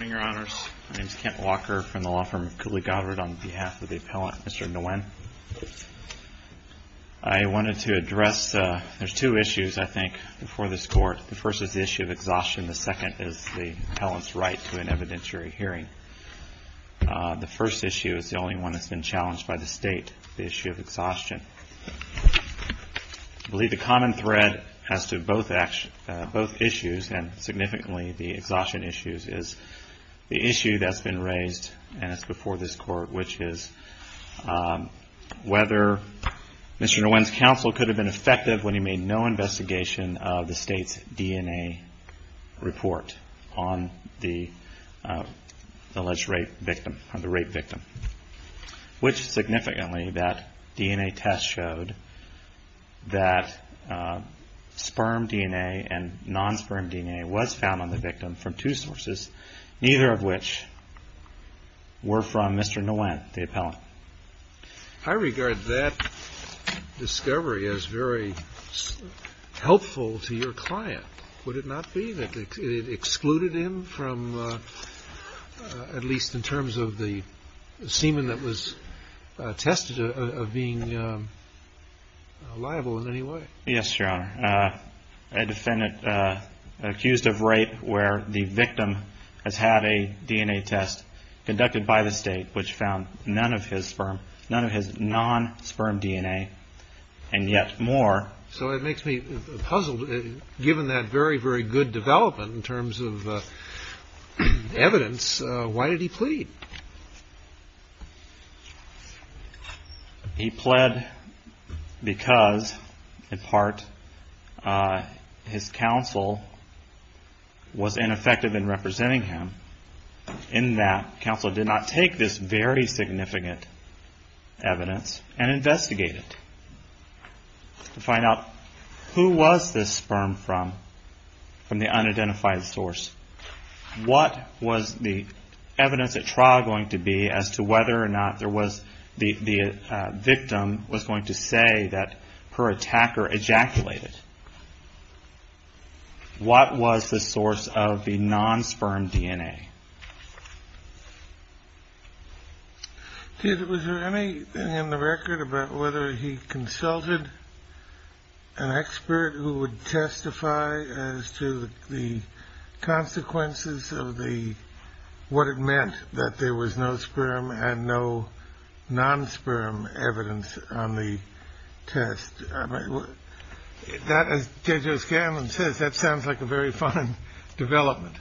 My name is Kent Walker from the law firm of Cooley Goddard on behalf of the appellant Mr. Nguyen. I wanted to address, there's two issues I think before this court. The first is the issue of exhaustion, the second is the appellant's right to an evidentiary hearing. The first issue is the only one that's been challenged by the state, the issue of exhaustion. I believe the common thread as to both issues and significantly the exhaustion issues is the issue that's been raised and it's before this court which is whether Mr. Nguyen's counsel could have been effective when he made no investigation of the state's DNA report on the alleged rape victim. Which significantly that DNA test showed that sperm DNA and non-sperm DNA was found on the victim from two sources, neither of which were from Mr. Nguyen, the appellant. I regard that discovery as very helpful to your client. Would it not be that it excluded him from, at least in terms of the semen that was tested, of being liable in any way? Yes, Your Honor. A defendant accused of rape where the victim has had a DNA test conducted by the state which found none of his sperm, none of his non-sperm DNA and yet more. So it makes me puzzled, given that very, very good development in terms of evidence, why did he plead? He pled because, in part, his counsel was ineffective in representing him in that counsel did not take this very significant evidence and investigate it. To find out who was this sperm from, from the unidentified source, what was the evidence at trial going to be as to whether or not the victim was going to say that her attacker ejaculated? What was the source of the non-sperm DNA? Was there anything in the record about whether he consulted an expert who would testify as to the consequences of what it meant that there was no sperm and no non-sperm evidence on the test? As Judge O'Scanlan says, that sounds like a very fine development,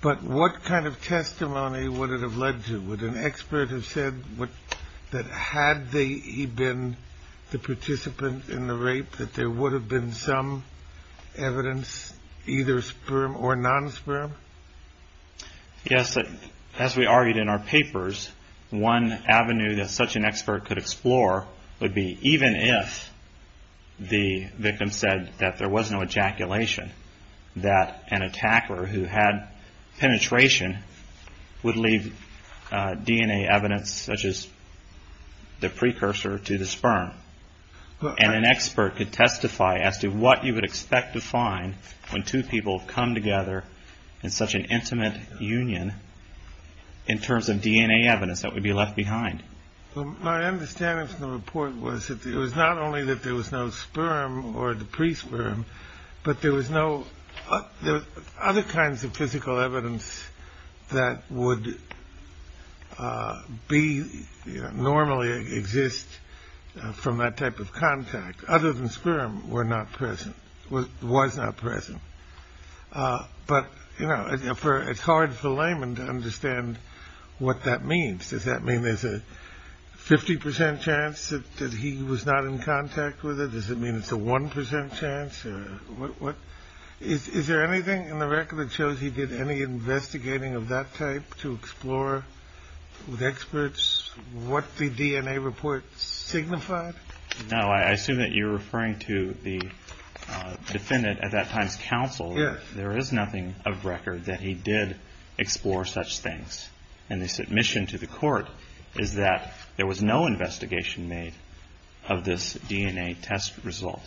but what kind of testimony would it have led to? Would an expert have said that had he been the participant in the rape that there would have been some evidence, either sperm or non-sperm? Yes, as we argued in our papers, one avenue that such an expert could explore would be even if the victim said that there was no ejaculation, that an attacker who had penetration would leave DNA evidence such as the precursor to the sperm. And an expert could testify as to what you would expect to find when two people come together in such an intimate union in terms of DNA evidence that would be left behind. My understanding from the report was that it was not only that there was no sperm or the pre-sperm, but there was other kinds of physical evidence that would normally exist from that type of contact other than sperm was not present. But it's hard for laymen to understand what that means. Does that mean there's a 50% chance that he was not in contact with it? Does it mean it's a 1% chance? Is there anything in the record that shows he did any investigating of that type to explore with experts what the DNA report signified? No, I assume that you're referring to the defendant at that time's counsel. There is nothing of record that he did explore such things. And the submission to the court is that there was no investigation made of this DNA test result.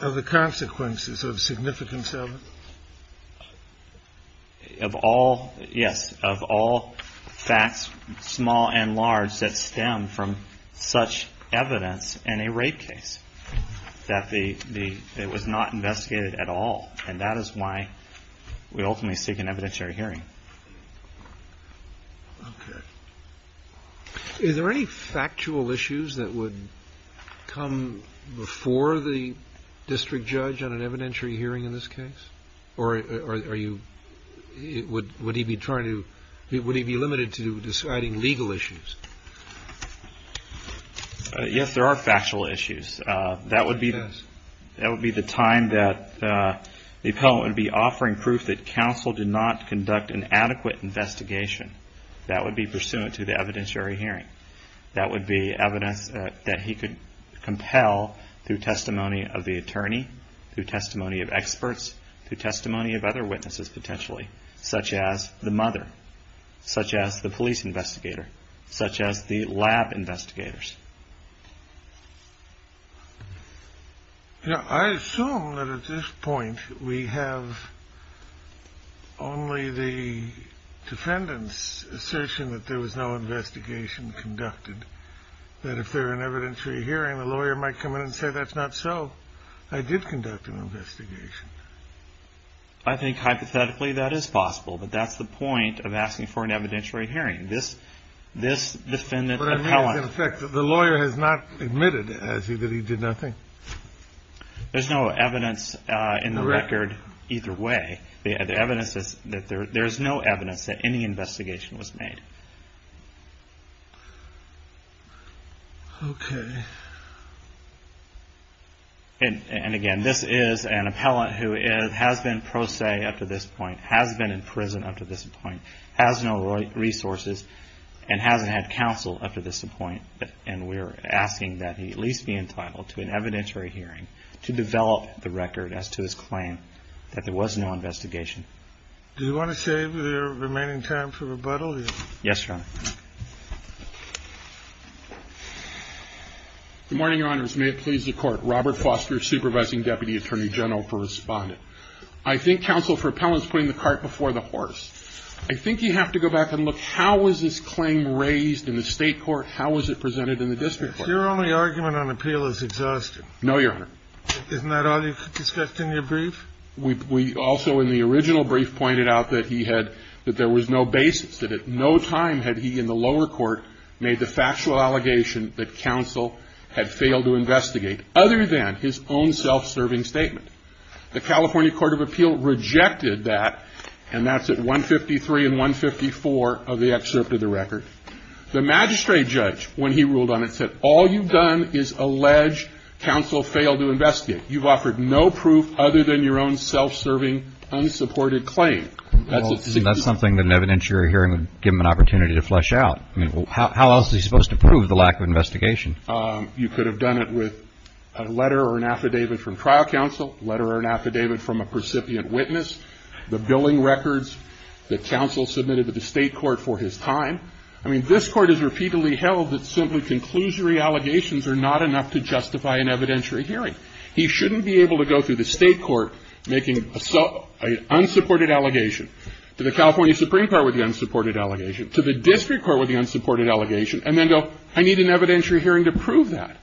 Of the consequences of significance of it? Yes, of all facts, small and large, that stem from such evidence in a rape case that it was not investigated at all. And that is why we ultimately seek an evidentiary hearing. Is there any factual issues that would come before the district judge on an evidentiary hearing in this case? Or would he be limited to deciding legal issues? Yes, there are factual issues. That would be the time that the appellant would be offering proof that counsel did not conduct an adequate investigation. That would be pursuant to the evidentiary hearing. That would be evidence that he could compel through testimony of the attorney, through testimony of experts, through testimony of other witnesses potentially, such as the mother, such as the police investigator, such as the lab investigators. I assume that at this point we have only the defendant's assertion that there was no investigation conducted. That if there were an evidentiary hearing, the lawyer might come in and say, that's not so. I did conduct an investigation. I think hypothetically that is possible, but that's the point of asking for an evidentiary hearing. This defendant appellant... But that means, in effect, that the lawyer has not admitted that he did nothing. There's no evidence in the record either way. The evidence is that there's no evidence that any investigation was made. Okay. And again, this is an appellant who has been pro se up to this point, has been in prison up to this point, has no resources, and hasn't had counsel up to this point. And we're asking that he at least be entitled to an evidentiary hearing to develop the record as to his claim that there was no investigation. Do you want to save the remaining time for rebuttal? Yes, Your Honor. Good morning, Your Honors. May it please the Court. Robert Foster, Supervising Deputy Attorney General for Respondent. I think counsel for appellant is putting the cart before the horse. I think you have to go back and look, how was this claim raised in the state court? How was it presented in the district court? Your only argument on appeal is exhaustion. No, Your Honor. Isn't that all you discussed in your brief? We also in the original brief pointed out that he had, that there was no basis, that at no time had he in the lower court made the factual allegation that counsel had failed to investigate, other than his own self-serving statement. The California Court of Appeal rejected that, and that's at 153 and 154 of the excerpt of the record. The magistrate judge, when he ruled on it, said all you've done is allege counsel failed to investigate. You've offered no proof other than your own self-serving, unsupported claim. Well, that's something that an evidentiary hearing would give him an opportunity to flesh out. I mean, how else is he supposed to prove the lack of investigation? You could have done it with a letter or an affidavit from trial counsel, letter or an affidavit from a precipient witness, the billing records that counsel submitted to the state court for his time. I mean, this Court has repeatedly held that simply conclusory allegations are not enough to justify an evidentiary hearing. He shouldn't be able to go through the state court making an unsupported allegation to the California Supreme Court with the unsupported allegation, to the district court with the unsupported allegation, and then go, I need an evidentiary hearing to prove that.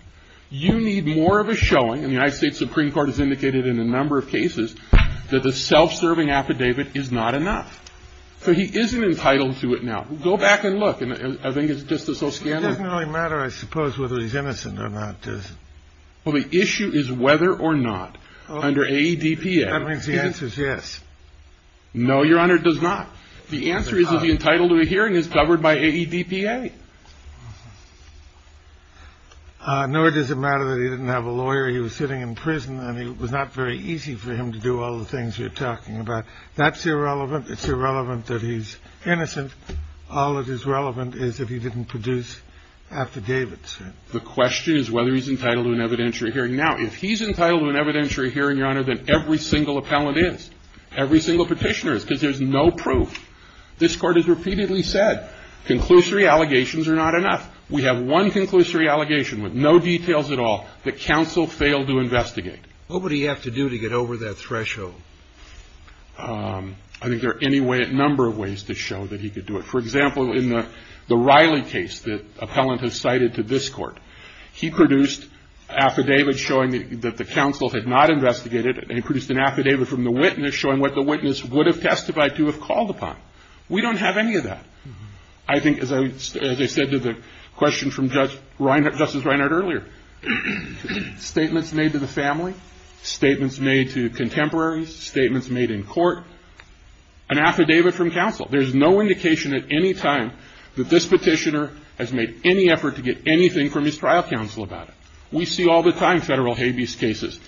You need more of a showing. And the United States Supreme Court has indicated in a number of cases that the self-serving affidavit is not enough. So he isn't entitled to it now. Go back and look. And I think it's just as so scandalous. It doesn't really matter, I suppose, whether he's innocent or not, does it? Well, the issue is whether or not under AEDPA. That means the answer is yes. No, Your Honor, it does not. The answer is if he's entitled to a hearing, it's covered by AEDPA. Nor does it matter that he didn't have a lawyer, he was sitting in prison, and it was not very easy for him to do all the things you're talking about. That's irrelevant. It's irrelevant that he's innocent. All that is relevant is if he didn't produce affidavits. The question is whether he's entitled to an evidentiary hearing. Now, if he's entitled to an evidentiary hearing, Your Honor, then every single appellant is. Every single petitioner is, because there's no proof. This Court has repeatedly said conclusory allegations are not enough. We have one conclusory allegation with no details at all that counsel failed to investigate. What would he have to do to get over that threshold? I think there are any number of ways to show that he could do it. For example, in the Riley case that appellant has cited to this Court, he produced affidavits showing that the counsel had not investigated and he produced an affidavit from the witness showing what the witness would have testified to have called upon. We don't have any of that. I think, as I said to the question from Justice Reinhart earlier, statements made to the family, statements made to contemporaries, statements made in court, an affidavit from counsel. There's no indication at any time that this petitioner has made any effort to get anything from his trial counsel about it. We see all the time federal habeas cases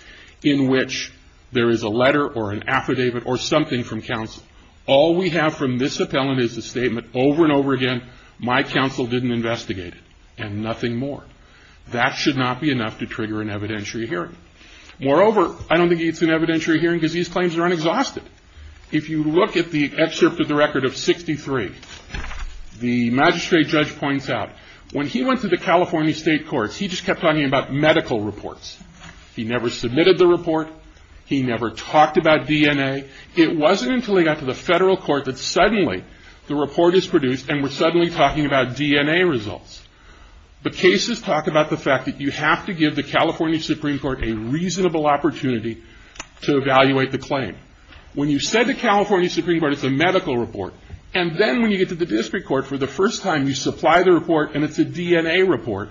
in which there is a letter or an affidavit or something from counsel. All we have from this appellant is a statement over and over again, my counsel didn't investigate it, and nothing more. That should not be enough to trigger an evidentiary hearing. Moreover, I don't think it's an evidentiary hearing because these claims are unexhausted. If you look at the excerpt of the record of 63, the magistrate judge points out, when he went to the California state courts, he just kept talking about medical reports. He never submitted the report. He never talked about DNA. It wasn't until he got to the federal court that suddenly the report is produced and we're suddenly talking about DNA results. The cases talk about the fact that you have to give the California Supreme Court a reasonable opportunity to evaluate the claim. When you said the California Supreme Court, it's a medical report, and then when you get to the district court for the first time, you supply the report and it's a DNA report.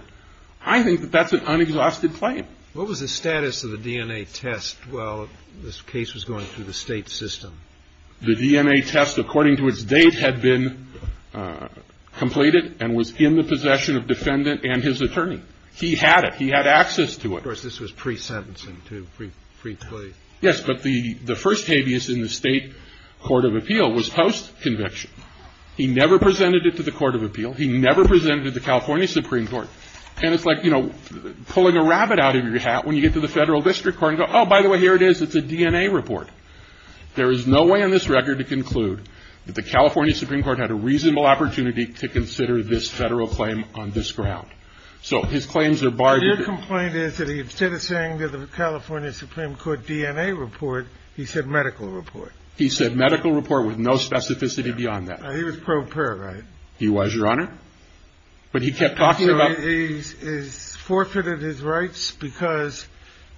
I think that that's an unexhausted claim. What was the status of the DNA test while this case was going through the state system? The DNA test, according to its date, had been completed and was in the possession of defendant and his attorney. He had it. He had access to it. Of course, this was pre-sentencing, too, pre-plea. Yes, but the first habeas in the state court of appeal was post-conviction. He never presented it to the court of appeal. He never presented it to the California Supreme Court. And it's like, you know, pulling a rabbit out of your hat when you get to the federal district court and go, oh, by the way, here it is. It's a DNA report. There is no way on this record to conclude that the California Supreme Court had a reasonable opportunity to consider this federal claim on this ground. So his claims are barred. Your complaint is that he instead of saying that the California Supreme Court DNA report, he said medical report. He said medical report with no specificity beyond that. He was pro pair, right? He was, Your Honor. But he kept talking about. He forfeited his rights because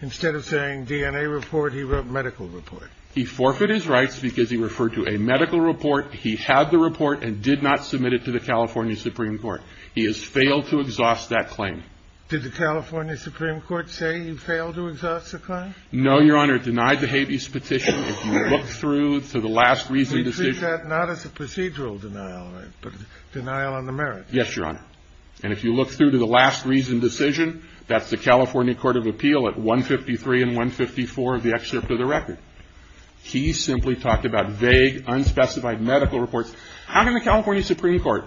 instead of saying DNA report, he wrote medical report. He forfeited his rights because he referred to a medical report. He had the report and did not submit it to the California Supreme Court. He has failed to exhaust that claim. Did the California Supreme Court say you failed to exhaust the claim? No, Your Honor. It denied the habeas petition. If you look through to the last reason decision. You treat that not as a procedural denial, right, but a denial on the merit. Yes, Your Honor. And if you look through to the last reason decision, that's the California Court of Appeal at 153 and 154 of the excerpt of the record. He simply talked about vague, unspecified medical reports. How can the California Supreme Court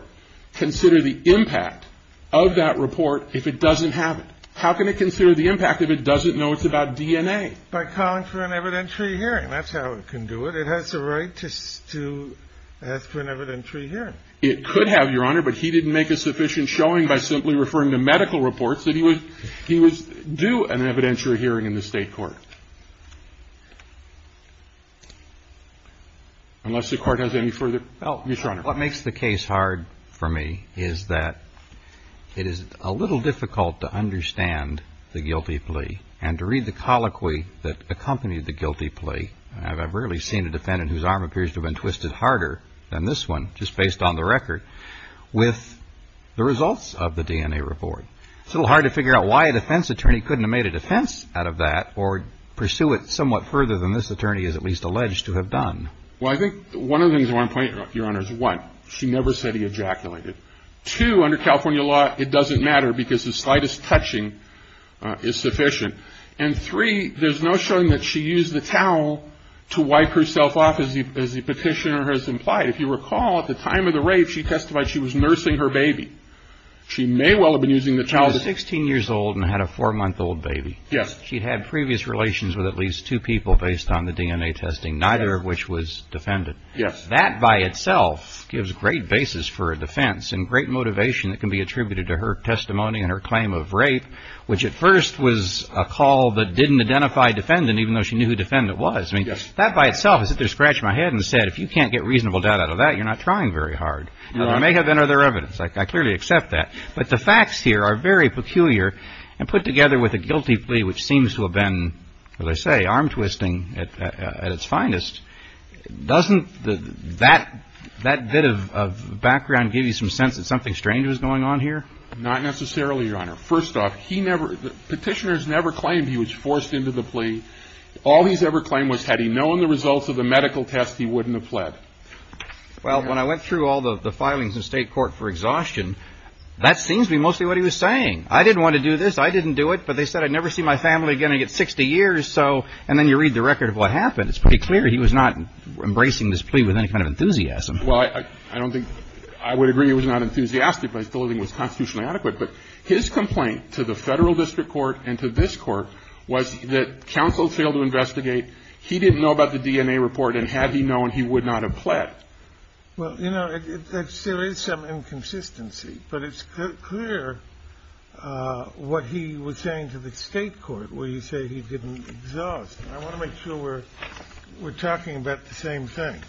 consider the impact of that report if it doesn't have it? How can it consider the impact if it doesn't know it's about DNA? By calling for an evidentiary hearing. That's how it can do it. It has the right to ask for an evidentiary hearing. It could have, Your Honor, but he didn't make a sufficient showing by simply referring to medical reports that he was due an evidentiary hearing in the state court. Unless the Court has any further help. Yes, Your Honor. What makes the case hard for me is that it is a little difficult to understand the guilty plea and to read the colloquy that accompanied the guilty plea. I've rarely seen a defendant whose arm appears to have been twisted harder than this one, just based on the record, with the results of the DNA report. It's a little hard to figure out why a defense attorney couldn't have made a defense out of that or pursue it somewhat further than this attorney is at least alleged to have done. Well, I think one of the things I want to point out, Your Honor, is one, she never said he ejaculated. Two, under California law, it doesn't matter because the slightest touching is sufficient. And three, there's no showing that she used the towel to wipe herself off as the petitioner has implied. If you recall, at the time of the rape, she testified she was nursing her baby. She may well have been using the towel. She was 16 years old and had a four-month-old baby. Yes. She'd had previous relations with at least two people based on the DNA testing, neither of which was defendant. Yes. That by itself gives great basis for a defense and great motivation that can be attributed to her testimony and her claim of rape, which at first was a call that didn't identify defendant even though she knew who defendant was. I mean, that by itself is just a scratch on my head and said, if you can't get reasonable doubt out of that, you're not trying very hard. There may have been other evidence. I clearly accept that. But the facts here are very peculiar and put together with a guilty plea, which seems to have been, as I say, arm-twisting at its finest. Doesn't that bit of background give you some sense that something strange was going on here? Not necessarily, Your Honor. First off, petitioners never claimed he was forced into the plea. All he's ever claimed was had he known the results of the medical test, he wouldn't have pled. Well, when I went through all the filings in state court for exhaustion, that seems to be mostly what he was saying. I didn't want to do this. I didn't do it. But they said I'd never see my family again. I get 60 years. So and then you read the record of what happened. It's pretty clear he was not embracing this plea with any kind of enthusiasm. Well, I don't think I would agree it was not enthusiastic, but I still think it was constitutionally adequate. But his complaint to the federal district court and to this court was that counsel failed to investigate. He didn't know about the DNA report. And had he known, he would not have pled. Well, you know, there is some inconsistency. But it's clear what he was saying to the state court where you say he didn't exhaust. I want to make sure we're talking about the same thing.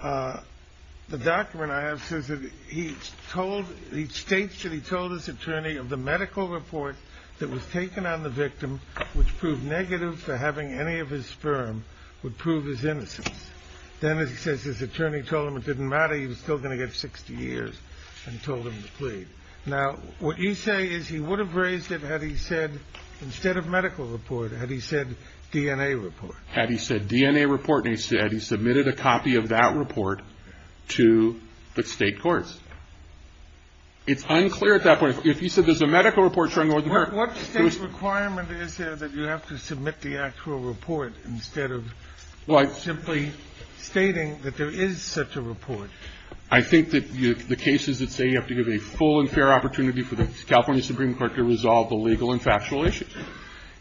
The document I have says that he told the states that he told his attorney of the medical report that was taken on the victim, which proved negative for having any of his sperm, would prove his innocence. Then, as he says, his attorney told him it didn't matter. He was still going to get 60 years and told him to plead. Now, what you say is he would have raised it had he said instead of medical report, had he said DNA report. Had he said DNA report and he said he submitted a copy of that report to the state courts. It's unclear at that point. If you said there's a medical report showing. What state requirement is there that you have to submit the actual report instead of simply stating that there is such a report? I think that the cases that say you have to give a full and fair opportunity for the California Supreme Court to resolve the legal and factual issues.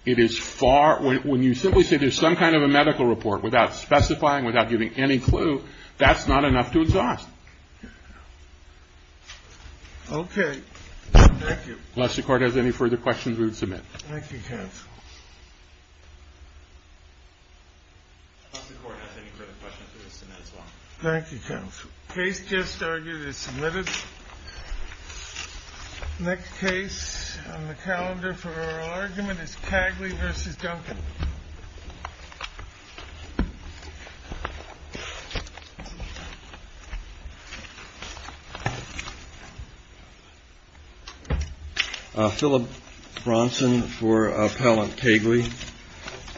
It is far. When you simply say there's some kind of a medical report without specifying, without giving any clue, that's not enough to exhaust. OK. Thank you. Unless the court has any further questions, we would submit. Thank you. Case just started. Next case on the calendar for our argument is Cagley versus Duncan. Philip Bronson for appellant Cagley.